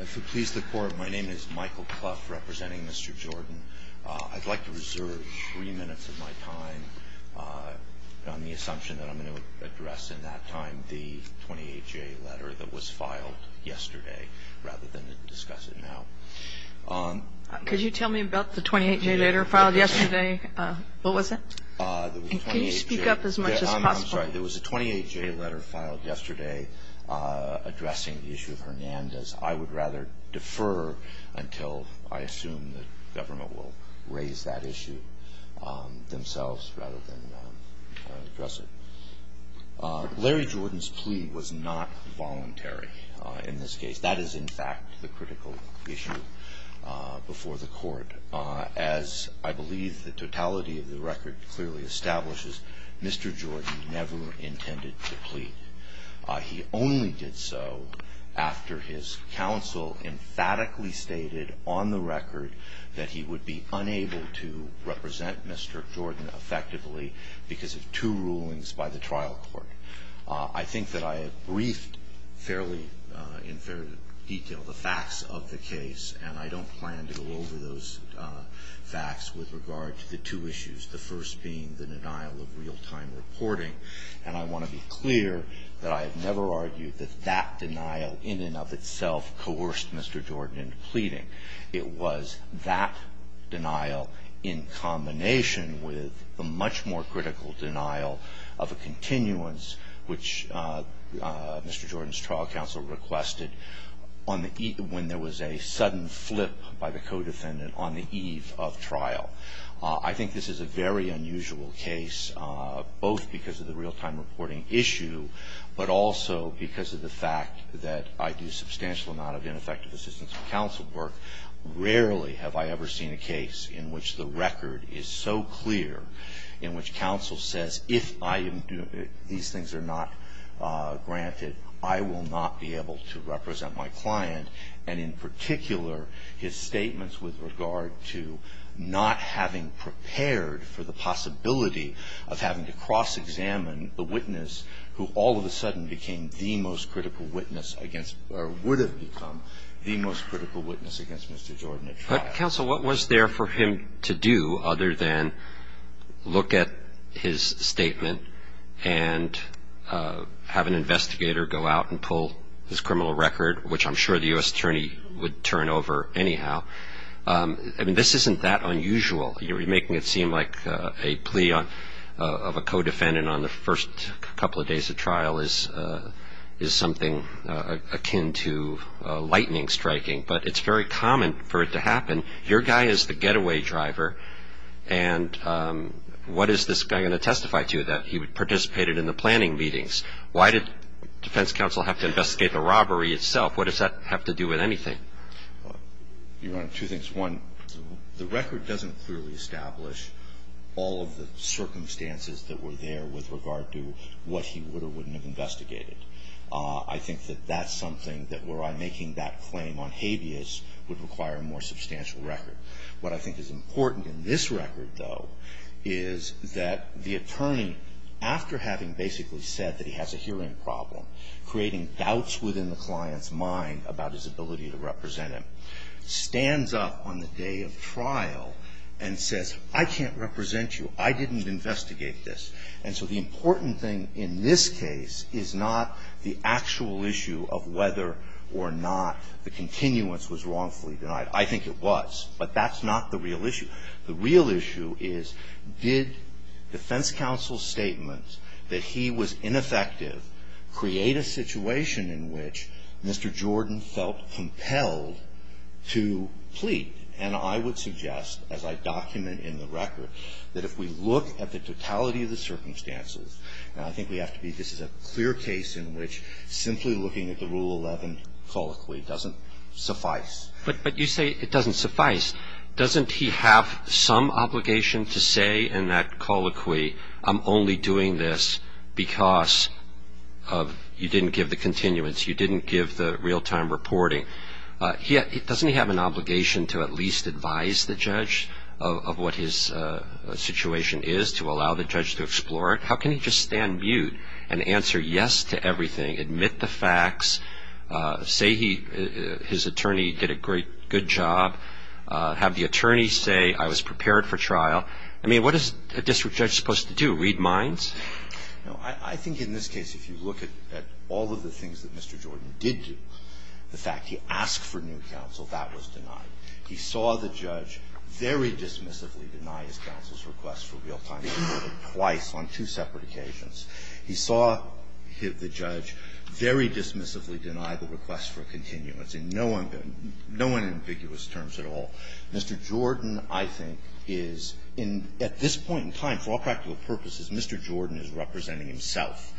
If it pleases the court, my name is Michael Cluff representing Mr. Jordan. I'd like to reserve three minutes of my time on the assumption that I'm going to address in that time the 28-J letter that was filed yesterday rather than discuss it now. Could you tell me about the 28-J letter filed yesterday? What was it? Can you speak up as much as possible? I'm sorry. There was a 28-J letter filed yesterday addressing the issue of Hernandez. I would rather defer until I assume the government will raise that issue themselves rather than address it. Larry Jordan's plea was not voluntary in this case. That is, in fact, the critical issue before the court. As I believe the totality of the record clearly establishes, Mr. Jordan never intended to plead. He only did so after his counsel emphatically stated on the record that he would be unable to represent Mr. Jordan effectively because of two rulings by the trial court. I think that I have briefed fairly in fair detail the facts of the case, and I don't plan to go over those facts with regard to the two issues, the first being the denial of real-time reporting. And I want to be clear that I have never argued that that denial in and of itself coerced Mr. Jordan into pleading. It was that denial in combination with a much more critical denial of a continuance, which Mr. Jordan's trial counsel requested when there was a sudden flip by the co-defendant on the eve of trial. I think this is a very unusual case, both because of the real-time reporting issue, but also because of the fact that I do a substantial amount of ineffective assistance for counsel work. Rarely have I ever seen a case in which the record is so clear, in which counsel says if I am doing these things are not granted, I will not be able to represent my client, and in particular, his statements with regard to not having prepared for the possibility of having to cross-examine the witness who all of a sudden became the most critical witness against or would have become the most critical witness against Mr. Jordan at trial. But, counsel, what was there for him to do other than look at his statement and have an investigator go out and pull his criminal record, which I'm sure the U.S. attorney would turn over anyhow? I mean, this isn't that unusual. You're making it seem like a plea of a co-defendant on the first couple of days of trial is something akin to lightning striking. But it's very common for it to happen. Your guy is the getaway driver, and what is this guy going to testify to that? He participated in the planning meetings. Why did defense counsel have to investigate the robbery itself? What does that have to do with anything? Well, Your Honor, two things. One, the record doesn't clearly establish all of the circumstances that were there with regard to what he would or wouldn't have investigated. I think that that's something that where I'm making that claim on habeas would require a more substantial record. What I think is important in this record, though, is that the attorney, after having basically said that he has a hearing problem, creating doubts within the client's mind about his ability to represent him, stands up on the day of trial and says, I can't represent you. I didn't investigate this. And so the important thing in this case is not the actual issue of whether or not the continuance was wrongfully denied. I think it was. But that's not the real issue. The real issue is, did defense counsel's statement that he was ineffective create a situation in which Mr. Jordan felt compelled to plead? And I would suggest, as I document in the record, that if we look at the totality of the circumstances, I think we have to be this is a clear case in which simply looking at the Rule 11 colloquy doesn't suffice. But you say it doesn't suffice. Doesn't he have some obligation to say in that colloquy, I'm only doing this because you didn't give the continuance, you didn't give the real-time reporting? Doesn't he have an obligation to at least advise the judge of what his situation is to allow the judge to explore it? How can he just stand mute and answer yes to everything, admit the facts, say his attorney did a good job, have the attorney say, I was prepared for trial? I mean, what is a district judge supposed to do, read minds? Now, I think in this case, if you look at all of the things that Mr. Jordan did do, the fact he asked for new counsel, that was denied. He saw the judge very dismissively deny his counsel's request for real-time reporting twice on two separate occasions. He saw the judge very dismissively deny the request for continuance in no unambiguous terms at all. Mr. Jordan, I think, is in at this point in time, for all practical purposes, Mr. Jordan is representing himself.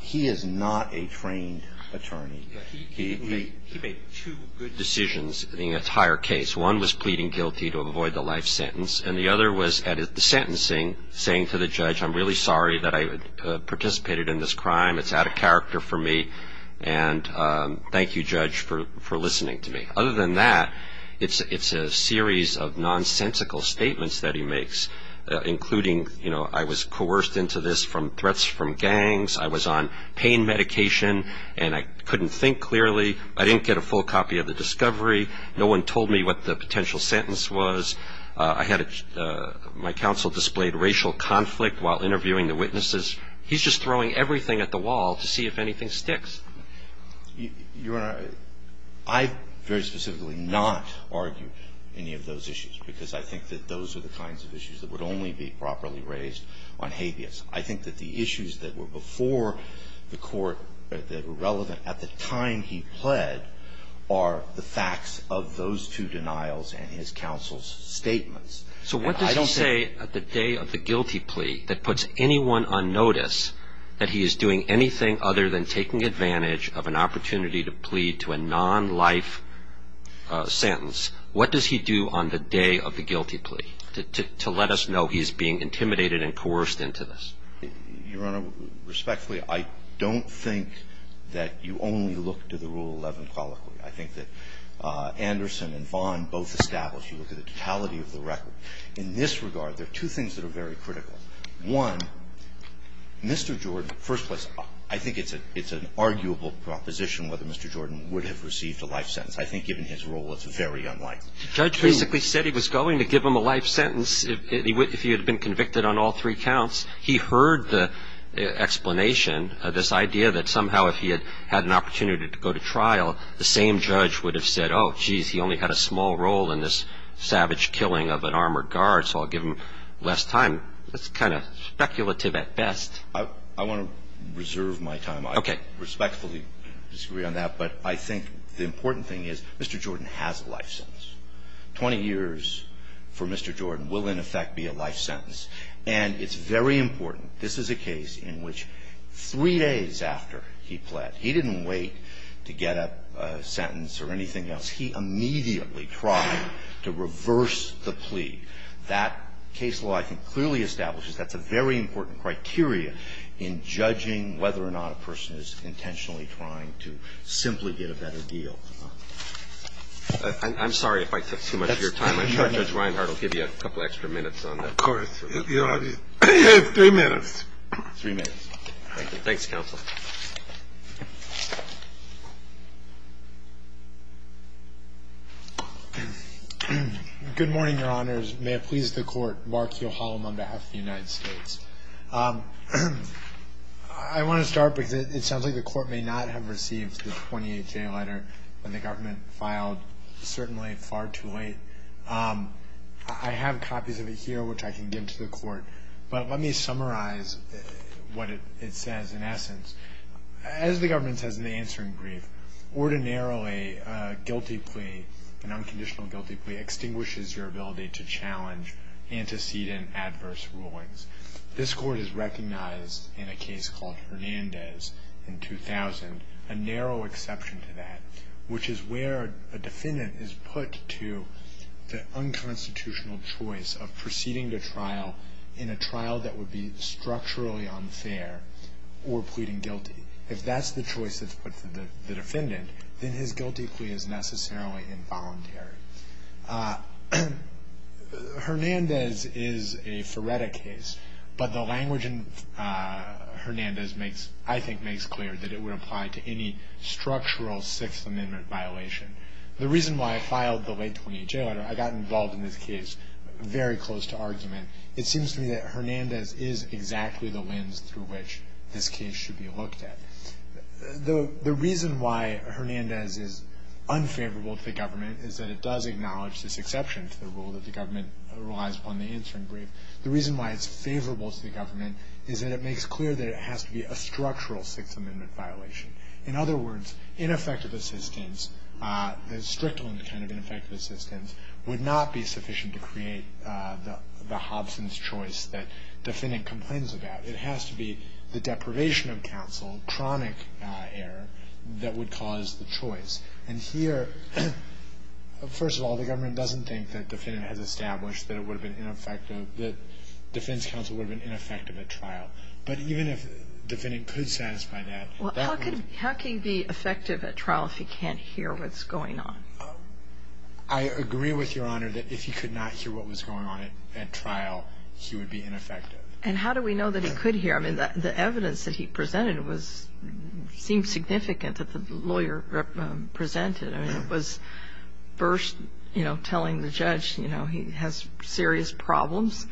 He is not a trained attorney. He made two good decisions in the entire case. One was pleading guilty to avoid the life sentence, and the other was at the sentencing saying to the judge, I'm really sorry that I participated in this crime. It's out of character for me, and thank you, judge, for listening to me. Other than that, it's a series of nonsensical statements that he makes, including, you know, I was coerced into this from threats from gangs. I was on pain medication, and I couldn't think clearly. I didn't get a full copy of the discovery. No one told me what the potential sentence was. I had my counsel displayed racial conflict while interviewing the witnesses. He's just throwing everything at the wall to see if anything sticks. Your Honor, I very specifically not argued any of those issues because I think that those are the kinds of issues that would only be properly raised on habeas. I think that the issues that were before the court that were relevant at the time he pled are the facts of those two denials and his counsel's statements. So what does he say at the day of the guilty plea that puts anyone on notice that he is doing anything other than taking advantage of an opportunity to plead to a non-life sentence? What does he do on the day of the guilty plea to let us know he's being intimidated and coerced into this? Your Honor, respectfully, I don't think that you only look to the Rule 11 colloquy. I think that Anderson and Vaughn both established you look at the totality of the record. In this regard, there are two things that are very critical. One, Mr. Jordan, first place, I think it's an arguable proposition whether Mr. Jordan would have received a life sentence. I think given his role, it's very unlikely. Judge basically said he was going to give him a life sentence if he had been convicted on all three counts. He heard the explanation of this idea that somehow if he had had an opportunity to go to trial, the same judge would have said, oh, geez, he only had a small role in this savage killing of an armored guard, so I'll give him less time. That's kind of speculative at best. I want to reserve my time. Okay. I respectfully disagree on that. But I think the important thing is Mr. Jordan has a life sentence. 20 years for Mr. Jordan will, in effect, be a life sentence. And it's very important, this is a case in which three days after he pled, he didn't wait to get a sentence or anything else. He immediately tried to reverse the plea. That case law, I think, clearly establishes that's a very important criteria in judging whether or not a person is intentionally trying to simply get a better deal. I'm sorry if I took too much of your time. I'm sure Judge Reinhart will give you a couple extra minutes on that. Of course. Three minutes. Three minutes. Thank you. Thanks, Counsel. Good morning, Your Honors. May it please the Court. Mark Yohalam on behalf of the United States. I want to start because it sounds like the Court may not have received the 28-J letter when the government filed, certainly far too late. I have copies of it here, which I can give to the Court. But let me summarize what it says in essence. As the government says in the answering brief, ordinarily a guilty plea, an unconditional guilty plea, extinguishes your ability to challenge antecedent adverse rulings. This Court has recognized in a case called Hernandez in 2000 a narrow exception to that, which is where a defendant is put to the unconstitutional choice of proceeding to trial in a trial that would be structurally unfair or pleading guilty. If that's the choice that's put to the defendant, then his guilty plea is necessarily involuntary. Hernandez is a Feretta case, but the language in Hernandez I think makes clear that it would apply to any structural Sixth Amendment violation. The reason why I filed the late 28-J letter, I got involved in this case very close to argument, it seems to me that Hernandez is exactly the lens through which this case should be looked at. The reason why Hernandez is unfavorable to the government is that it does acknowledge this exception to the rule that the government relies upon in the answering brief. The reason why it's favorable to the government is that it makes clear that it has to be a structural Sixth Amendment violation. In other words, ineffective assistance, the strictly kind of ineffective assistance, would not be sufficient to create the Hobson's choice that defendant complains about. It has to be the deprivation of counsel, chronic error, that would cause the choice. And here, first of all, the government doesn't think that the defendant has established that it would have been ineffective, that defense counsel would have been ineffective at trial. But even if the defendant could satisfy that, that would be Well, how can he be effective at trial if he can't hear what's going on? I agree with Your Honor that if he could not hear what was going on at trial, he would be ineffective. And how do we know that he could hear? I mean, the evidence that he presented seemed significant that the lawyer presented. I mean, it was first, you know, telling the judge, you know, he has serious problems.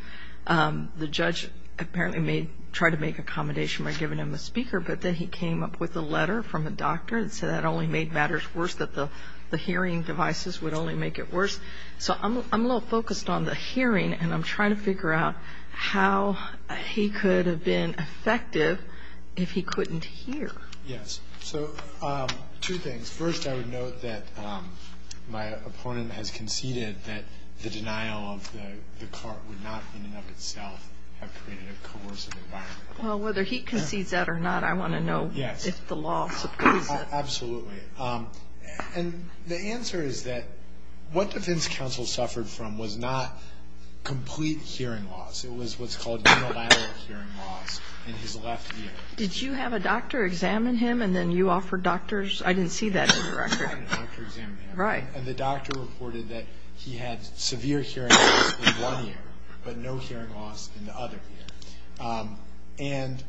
The judge apparently tried to make accommodation by giving him a speaker, but then he came up with a letter from a doctor and said that only made matters worse, that the hearing devices would only make it worse. So I'm a little focused on the hearing, and I'm trying to figure out how he could have been effective if he couldn't hear. Yes. So two things. First, I would note that my opponent has conceded that the denial of the cart would not in and of itself have created a coercive environment. Well, whether he concedes that or not, I want to know if the law supports that. Yes. Absolutely. And the answer is that what defense counsel suffered from was not complete hearing loss. It was what's called unilateral hearing loss in his left ear. Did you have a doctor examine him, and then you offered doctors? I didn't see that in the record. I had a doctor examine him. Right. And the doctor reported that he had severe hearing loss in one ear, but no hearing loss in the other ear. And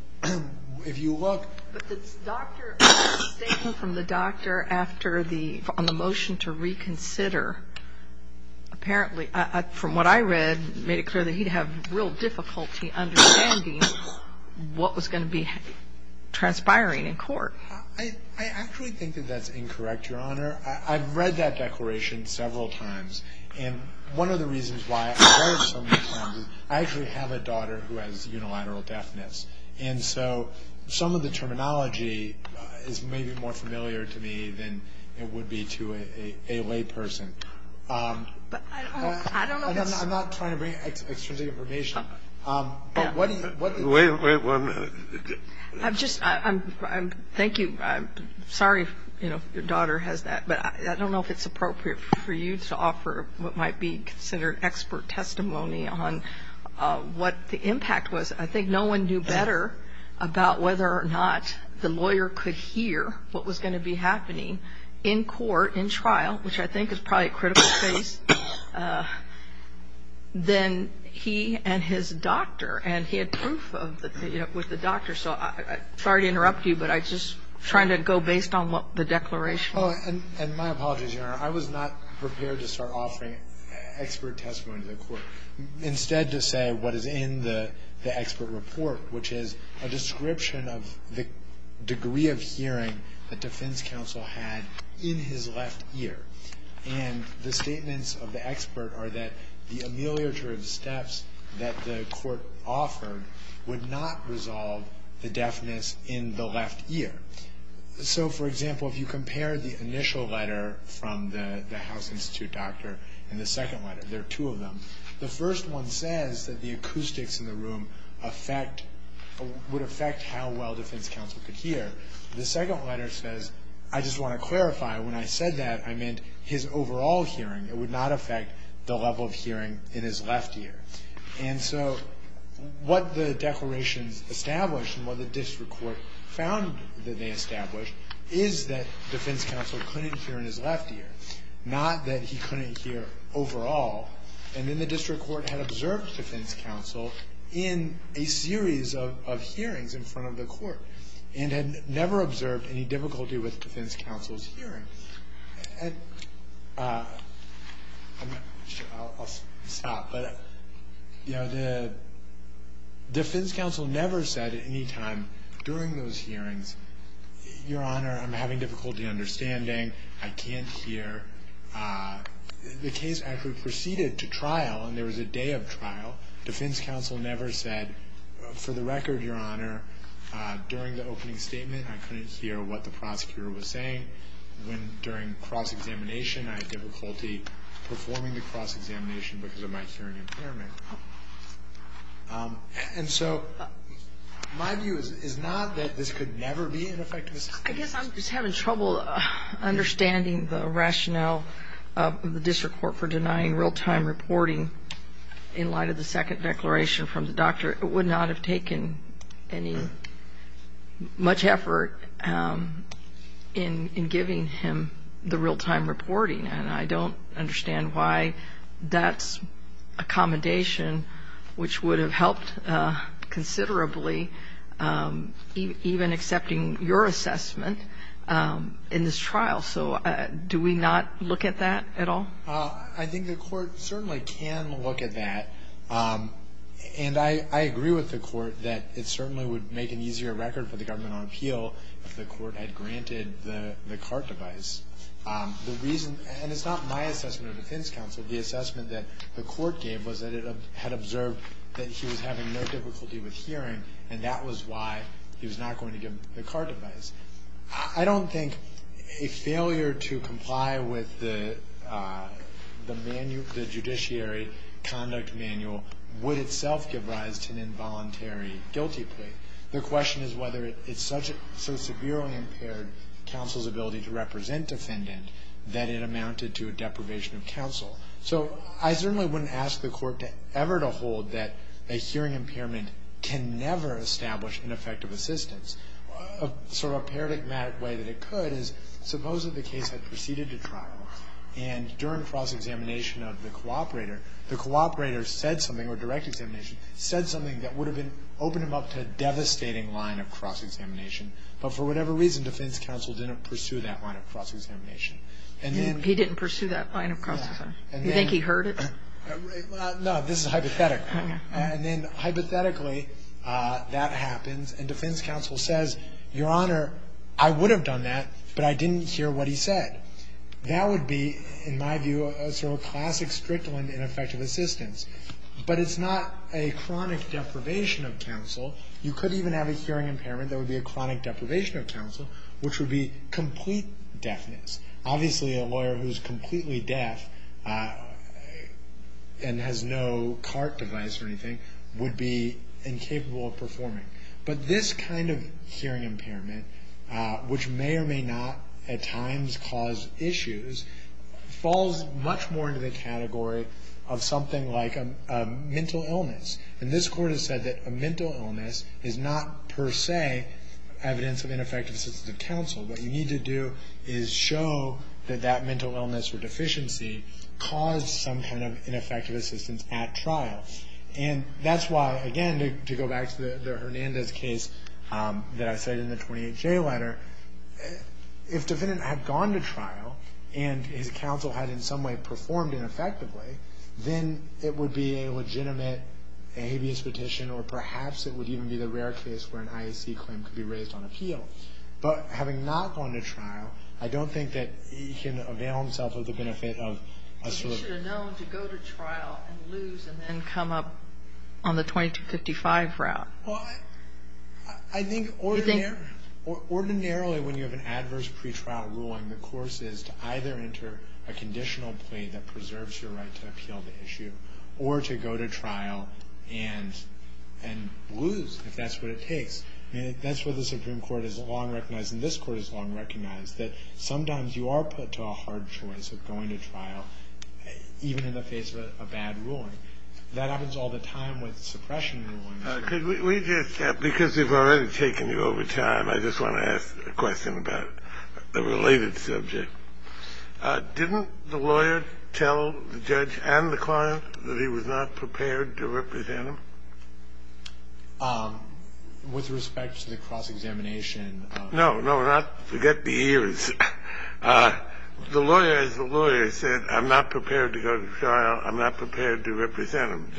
if you look... But the doctor, the statement from the doctor on the motion to reconsider, apparently, from what I read, made it clear that he'd have real difficulty understanding what was going to be transpiring in court. I actually think that that's incorrect, Your Honor. I've read that declaration several times. And one of the reasons why I've read it so many times is I actually have a daughter who has unilateral deafness. And so some of the terminology is maybe more familiar to me than it would be to a layperson. But I don't know if it's... I'm not trying to bring extrinsic information. But what do you... Wait, wait one minute. I'm just, thank you. I'm sorry, you know, if your daughter has that. But I don't know if it's appropriate for you to offer what might be considered expert testimony on what the impact was. I think no one knew better about whether or not the lawyer could hear what was going to be happening in court, in trial, which I think is probably a critical case, than he and his doctor. And he had proof with the doctor. So I'm sorry to interrupt you, but I'm just trying to go based on the declaration. And my apologies, Your Honor. I was not prepared to start offering expert testimony to the court. Instead to say what is in the expert report, which is a description of the degree of hearing that defense counsel had in his left ear. And the statements of the expert are that the ameliorative steps that the court offered would not resolve the deafness in the left ear. So, for example, if you compare the initial letter from the House Institute doctor and the second letter, there are two of them. The first one says that the acoustics in the room would affect how well defense counsel could hear. The second letter says, I just want to clarify, when I said that, I meant his overall hearing. It would not affect the level of hearing in his left ear. And so what the declarations established and what the district court found that they established is that defense counsel couldn't hear in his left ear. Not that he couldn't hear overall. And then the district court had observed defense counsel in a series of hearings in front of the court and had never observed any difficulty with defense counsel's hearing. And I'll stop. But, you know, the defense counsel never said at any time during those hearings, Your Honor, I'm having difficulty understanding. I can't hear. The case actually proceeded to trial, and there was a day of trial. Defense counsel never said, for the record, Your Honor, during the opening statement, I couldn't hear what the prosecutor was saying. During cross-examination, I had difficulty performing the cross-examination because of my hearing impairment. And so my view is not that this could never be an effective assistance. I guess I'm just having trouble understanding the rationale of the district court for denying real-time reporting in light of the second declaration from the doctor. It would not have taken any much effort in giving him the real-time reporting. And I don't understand why that's accommodation, which would have helped considerably even accepting your assessment in this trial. So do we not look at that at all? I think the court certainly can look at that. And I agree with the court that it certainly would make an easier record for the government on appeal if the court had granted the CART device. And it's not my assessment of defense counsel. The assessment that the court gave was that it had observed that he was having no difficulty with hearing, and that was why he was not going to give the CART device. I don't think a failure to comply with the judiciary conduct manual would itself give rise to an involuntary guilty plea. The question is whether it so severely impaired counsel's ability to represent defendant that it amounted to a deprivation of counsel. So I certainly wouldn't ask the court ever to hold that a hearing impairment can never establish an effective assistance. Sort of a paradigmatic way that it could is suppose that the case had proceeded to trial, and during cross-examination of the cooperator, the cooperator said something, or direct examination, said something that would have been, opened him up to a devastating line of cross-examination. But for whatever reason, defense counsel didn't pursue that line of cross-examination. And then he didn't pursue that line of cross-examination. Do you think he heard it? No. This is a hypothetical. And then hypothetically, that happens, and defense counsel says, Your Honor, I would have done that, but I didn't hear what he said. That would be, in my view, a sort of classic strict one in effective assistance. But it's not a chronic deprivation of counsel. You could even have a hearing impairment that would be a chronic deprivation of counsel, which would be complete deafness. Obviously, a lawyer who is completely deaf and has no CART device or anything would be incapable of performing. But this kind of hearing impairment, which may or may not at times cause issues, falls much more into the category of something like a mental illness. And this Court has said that a mental illness is not per se evidence of ineffective assistance of counsel. What you need to do is show that that mental illness or deficiency caused some kind of ineffective assistance at trial. And that's why, again, to go back to the Hernandez case that I cited in the 28J letter, if defendant had gone to trial and his counsel had in some way performed ineffectively, then it would be a legitimate habeas petition, or perhaps it would even be the rare case where an IAC claim could be raised on appeal. But having not gone to trial, I don't think that he can avail himself of the benefit of a sort of ---- But he should have known to go to trial and lose and then come up on the 2255 route. Well, I think ordinarily when you have an adverse pretrial ruling, the course is to either enter a conditional plea that preserves your right to appeal the issue, or to go to trial and lose, if that's what it takes. That's what the Supreme Court has long recognized and this Court has long recognized, that sometimes you are put to a hard choice of going to trial even in the face of a bad ruling. That happens all the time with suppression rulings. We just have, because we've already taken you over time, I just want to ask a question about the related subject. Didn't the lawyer tell the judge and the client that he was not prepared to represent him? With respect to the cross-examination. No, no. Forget the ears. The lawyer, as the lawyer said, I'm not prepared to go to trial. I'm not prepared to represent him.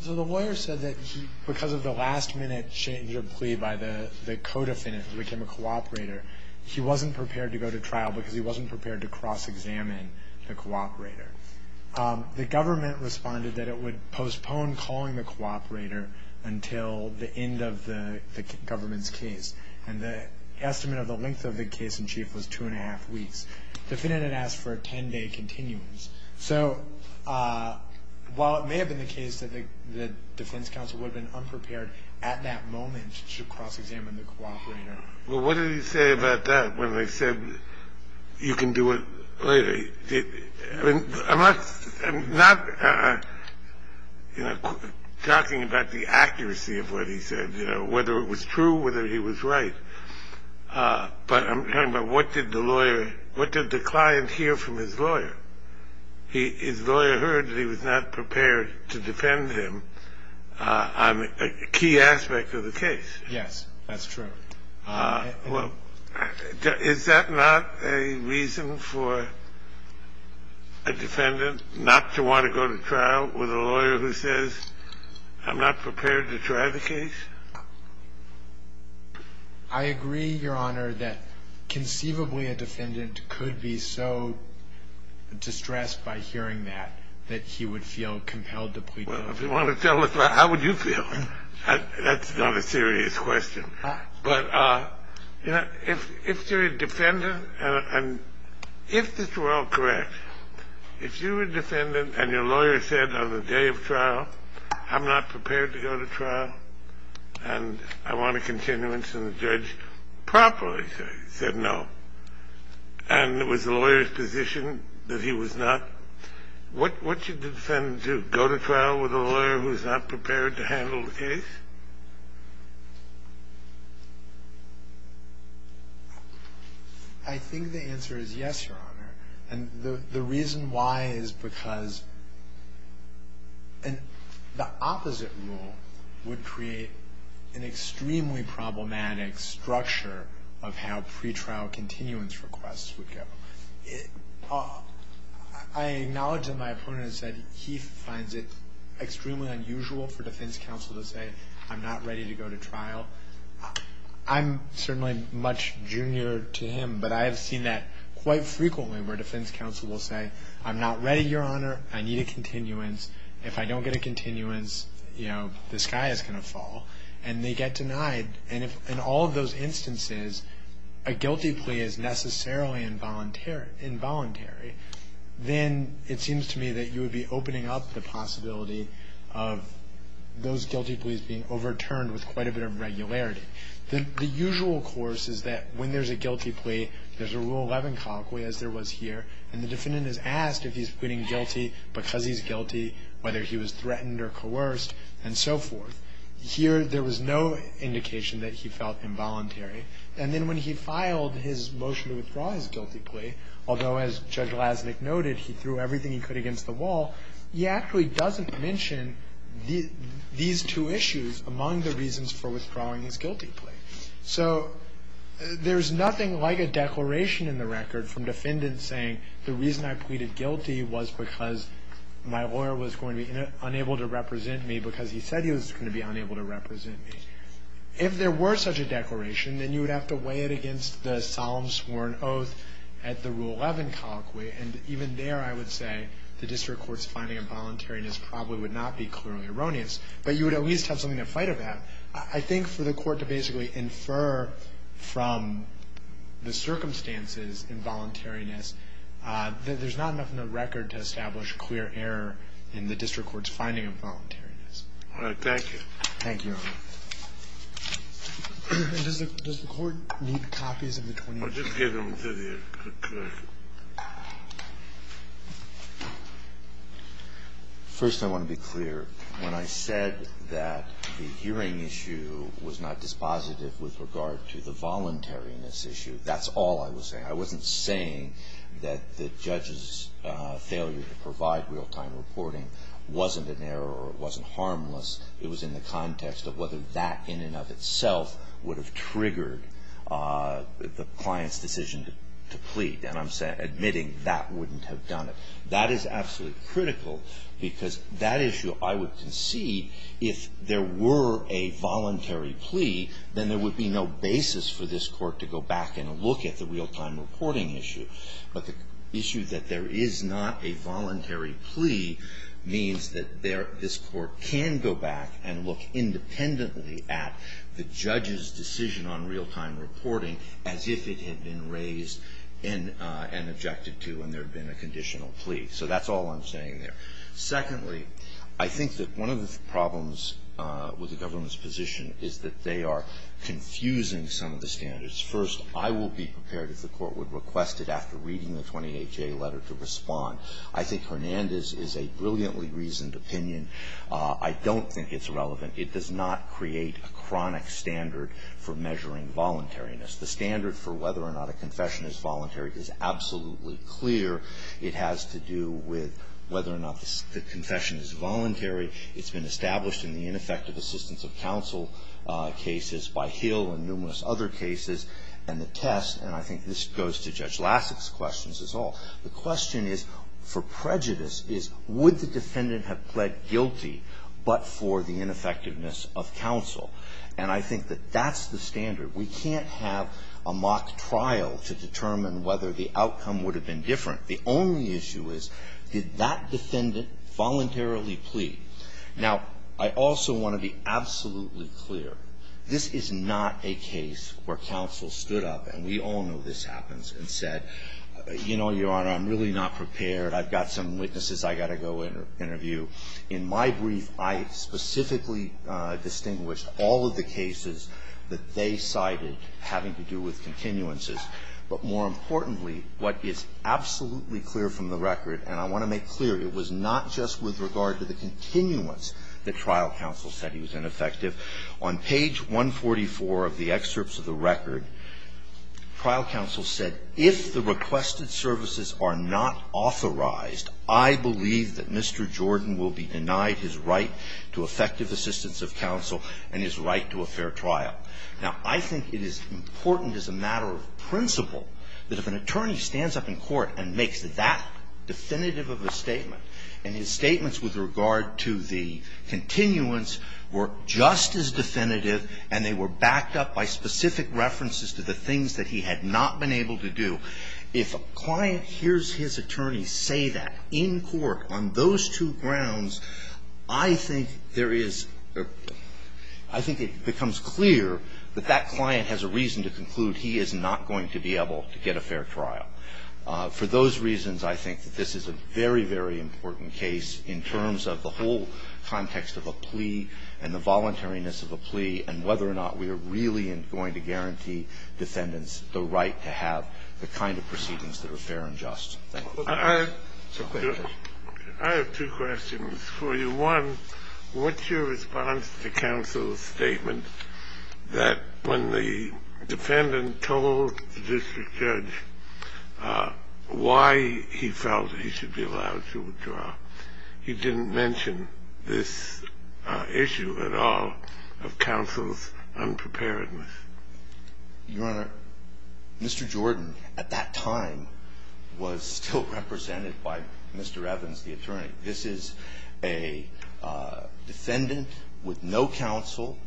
So the lawyer said that because of the last minute change of plea by the co-defendant who became a cooperator, he wasn't prepared to go to trial because he wasn't prepared to cross-examine the cooperator. The government responded that it would postpone calling the cooperator until the end of the government's case. And the estimate of the length of the case in chief was two and a half weeks. The defendant had asked for a ten-day continuance. So while it may have been the case that the defense counsel would have been unprepared at that moment to cross-examine the cooperator. Well, what did he say about that when they said you can do it later? I mean, I'm not talking about the accuracy of what he said, you know, whether it was true, whether he was right. But I'm talking about what did the lawyer, what did the client hear from his lawyer? His lawyer heard that he was not prepared to defend him on a key aspect of the case. Yes, that's true. Well, is that not a reason for a defendant not to want to go to trial with a lawyer who says I'm not prepared to try the case? I agree, Your Honor, that conceivably a defendant could be so distressed by hearing that that he would feel compelled to plead guilty. Well, if you want to tell us, how would you feel? That's not a serious question. But, you know, if you're a defendant, and if this were all correct, if you were a defendant and your lawyer said on the day of trial, I'm not prepared to go to trial, and I want a continuance and the judge promptly said no, and it was the lawyer's position that he was not, what should the defendant do? Go to trial with a lawyer who's not prepared to handle the case? I think the answer is yes, Your Honor. And the reason why is because the opposite rule would create an extremely problematic structure of how pretrial continuance requests would go. I acknowledge that my opponent has said he finds it extremely unusual for defense counsel to say I'm not ready to go to trial. I'm certainly much junior to him, but I have seen that quite frequently where defense counsel will say I'm not ready, Your Honor. I need a continuance. If I don't get a continuance, you know, the sky is going to fall, and they get denied. And if in all of those instances a guilty plea is necessarily involuntary, then it seems to me that you would be opening up the possibility of those guilty pleas being overturned with quite a bit of regularity. The usual course is that when there's a guilty plea, there's a Rule 11 conque, as there was here, and the defendant is asked if he's pleading guilty because he's guilty, whether he was threatened or coerced, and so forth. Here, there was no indication that he felt involuntary. And then when he filed his motion to withdraw his guilty plea, although, as Judge Lasnik noted, he threw everything he could against the wall, he actually doesn't mention these two issues among the reasons for withdrawing his guilty plea. So there's nothing like a declaration in the record from defendants saying the reason I pleaded guilty was because my lawyer was going to be unable to represent me because he said he was going to be unable to represent me. If there were such a declaration, then you would have to weigh it against the solemn sworn oath at the Rule 11 conque, and even there I would say the district court's finding of voluntariness probably would not be clearly erroneous, but you would at least have something to fight about. I think for the court to basically infer from the circumstances involuntariness, there's not enough in the record to establish clear error in the district court's finding of voluntariness. Thank you. Thank you, Your Honor. Does the court need copies of the 21st? First I want to be clear. When I said that the hearing issue was not dispositive with regard to the voluntariness issue, that's all I was saying. I wasn't saying that the judge's failure to provide real-time reporting wasn't an error or it wasn't harmless. It was in the context of whether that in and of itself would have triggered the client's decision to plead. And I'm admitting that wouldn't have done it. That is absolutely critical because that issue, I would concede, if there were a voluntary plea, then there would be no basis for this court to go back and look at the real-time reporting issue. But the issue that there is not a voluntary plea means that this court can go back and look independently at the judge's decision on real-time reporting as if it had been raised and objected to and there had been a conditional plea. So that's all I'm saying there. Secondly, I think that one of the problems with the government's position is that they are confusing some of the standards. First, I will be prepared if the court would request it after reading the 28-J letter to respond. I think Hernandez is a brilliantly reasoned opinion. I don't think it's relevant. It does not create a chronic standard for measuring voluntariness. The standard for whether or not a confession is voluntary is absolutely clear. It has to do with whether or not the confession is voluntary. It's been established in the ineffective assistance of counsel cases by Hill and numerous other cases. And the test, and I think this goes to Judge Lassit's questions as well, the question is, for prejudice, is would the defendant have pled guilty but for the ineffectiveness of counsel? And I think that that's the standard. We can't have a mock trial to determine whether the outcome would have been different. The only issue is, did that defendant voluntarily plea? Now, I also want to be absolutely clear. This is not a case where counsel stood up, and we all know this happens, and said, You know, Your Honor, I'm really not prepared. I've got some witnesses I've got to go interview. In my brief, I specifically distinguished all of the cases that they cited having to do with continuances. But more importantly, what is absolutely clear from the record, and I want to make clear, it was not just with regard to the continuance that trial counsel said he was ineffective. On page 144 of the excerpts of the record, trial counsel said, If the requested services are not authorized, I believe that Mr. Jordan will be denied his right to effective assistance of counsel and his right to a fair trial. Now, I think it is important as a matter of principle that if an attorney stands up in court and makes that definitive of a statement, and his statements with regard to the continuance were just as definitive and they were backed up by specific references to the things that he had not been able to do, if a client hears his attorney say that in court on those two grounds, I think there is or I think it becomes clear that that client has a reason to conclude he is not going to be able to get a fair trial. For those reasons, I think that this is a very, very important case in terms of the whole context of a plea and the voluntariness of a plea and whether or not we are really going to guarantee defendants the right to have the kind of proceedings that are fair and just. Thank you. So, go ahead, Judge. I have two questions for you. One, what's your response to counsel's statement that when the defendant told the attorney why he felt he should be allowed to withdraw, he didn't mention this issue at all of counsel's unpreparedness? Your Honor, Mr. Jordan at that time was still represented by Mr. Evans, the attorney. This is a defendant with no counsel.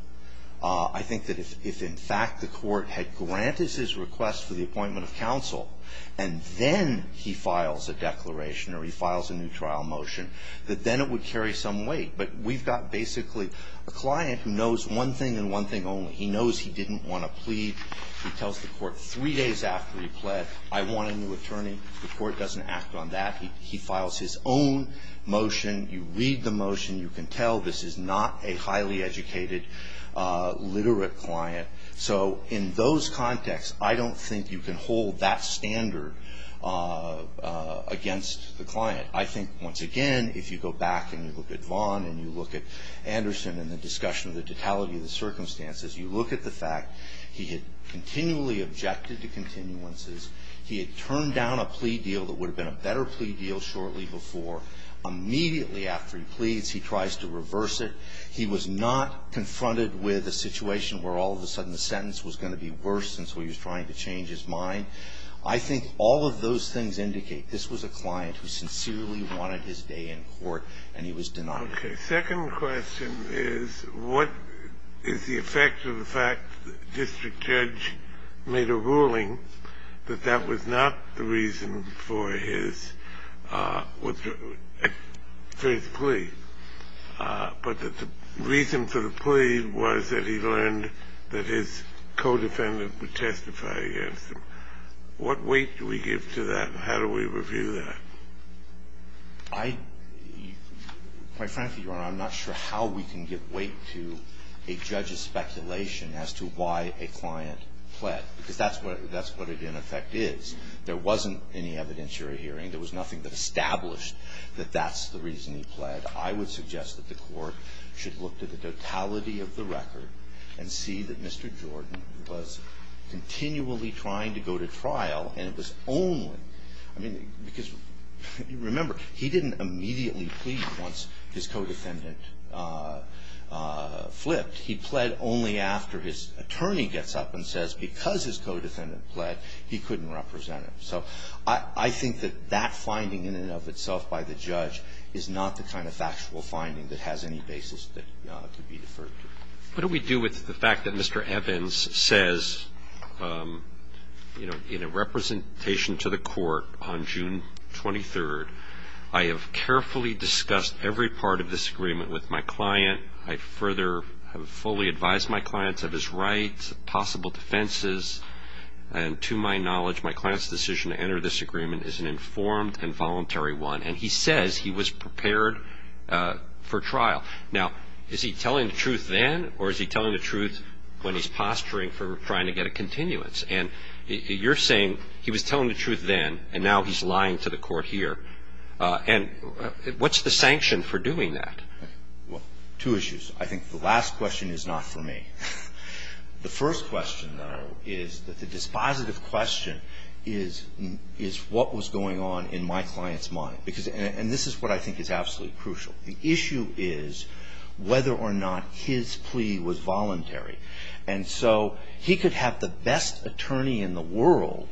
I think that if in fact the court had granted his request for the appointment of counsel and then he files a declaration or he files a new trial motion, that then it would carry some weight. But we've got basically a client who knows one thing and one thing only. He knows he didn't want to plead. He tells the court three days after he pled, I want a new attorney. The court doesn't act on that. He files his own motion. You read the motion. You can tell this is not a highly educated, literate client. So in those contexts, I don't think you can hold that standard against the client. I think, once again, if you go back and you look at Vaughn and you look at Anderson and the discussion of the totality of the circumstances, you look at the fact he had continually objected to continuances. He had turned down a plea deal that would have been a better plea deal shortly before. Immediately after he pleads, he tries to reverse it. He was not confronted with a situation where all of a sudden the sentence was going to be worse, and so he was trying to change his mind. I think all of those things indicate this was a client who sincerely wanted his day in court, and he was denied it. Okay. Second question is what is the effect of the fact that the district judge made a ruling that that was not the reason for his plea, but that the reason for the plea was that he learned that his co-defendant would testify against him? What weight do we give to that? How do we review that? I, quite frankly, Your Honor, I'm not sure how we can give weight to a judge's claim that that's what it, in effect, is. There wasn't any evidentiary hearing. There was nothing that established that that's the reason he pled. I would suggest that the Court should look to the totality of the record and see that Mr. Jordan was continually trying to go to trial, and it was only – I mean, because remember, he didn't immediately plead once his co-defendant flipped. He pled only after his attorney gets up and says because his co-defendant pled, he couldn't represent him. So I think that that finding in and of itself by the judge is not the kind of factual finding that has any basis that could be deferred to. What do we do with the fact that Mr. Evans says, you know, in a representation to the Court on June 23rd, I have carefully discussed every part of this agreement with my client. I further have fully advised my clients of his rights, possible defenses, and to my knowledge, my client's decision to enter this agreement is an informed and voluntary one. And he says he was prepared for trial. Now, is he telling the truth then, or is he telling the truth when he's posturing for trying to get a continuance? And you're saying he was telling the truth then, and now he's lying to the Court here. And what's the sanction for doing that? Well, two issues. I think the last question is not for me. The first question, though, is that the dispositive question is, is what was going on in my client's mind? Because this is what I think is absolutely crucial. The issue is whether or not his plea was voluntary. And so he could have the best attorney in the world,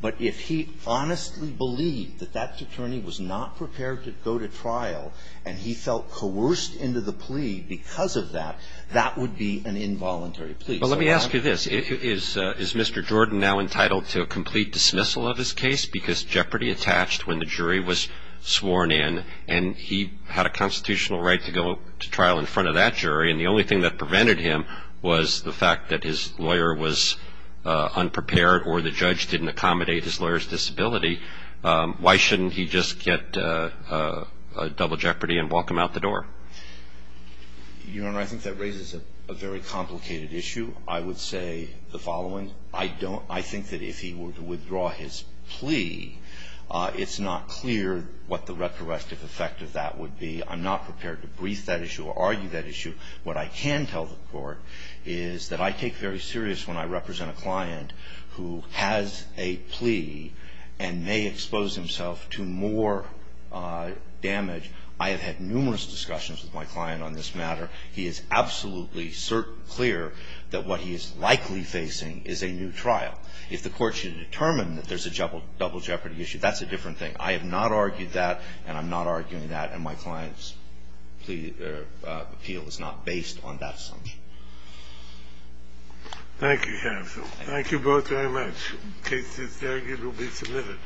but if he honestly believed that that attorney was not prepared to go to trial, and he felt coerced into the plea because of that, that would be an involuntary plea. Well, let me ask you this. Is Mr. Jordan now entitled to a complete dismissal of his case? Because jeopardy attached when the jury was sworn in, and he had a constitutional right to go to trial in front of that jury. And the only thing that prevented him was the fact that his lawyer was unprepared or the judge didn't accommodate his lawyer's disability. Why shouldn't he just get double jeopardy and walk him out the door? Your Honor, I think that raises a very complicated issue. I would say the following. I don't – I think that if he were to withdraw his plea, it's not clear what the retroactive effect of that would be. I'm not prepared to brief that issue or argue that issue. What I can tell the Court is that I take very serious when I represent a client who has a plea and may expose himself to more damage. I have had numerous discussions with my client on this matter. He is absolutely clear that what he is likely facing is a new trial. If the Court should determine that there's a double jeopardy issue, that's a different thing. I have not argued that, and I'm not arguing that, and my client's appeal is not based on that assumption. Thank you, Hansel. Thank you both very much. The case is there. It will be submitted.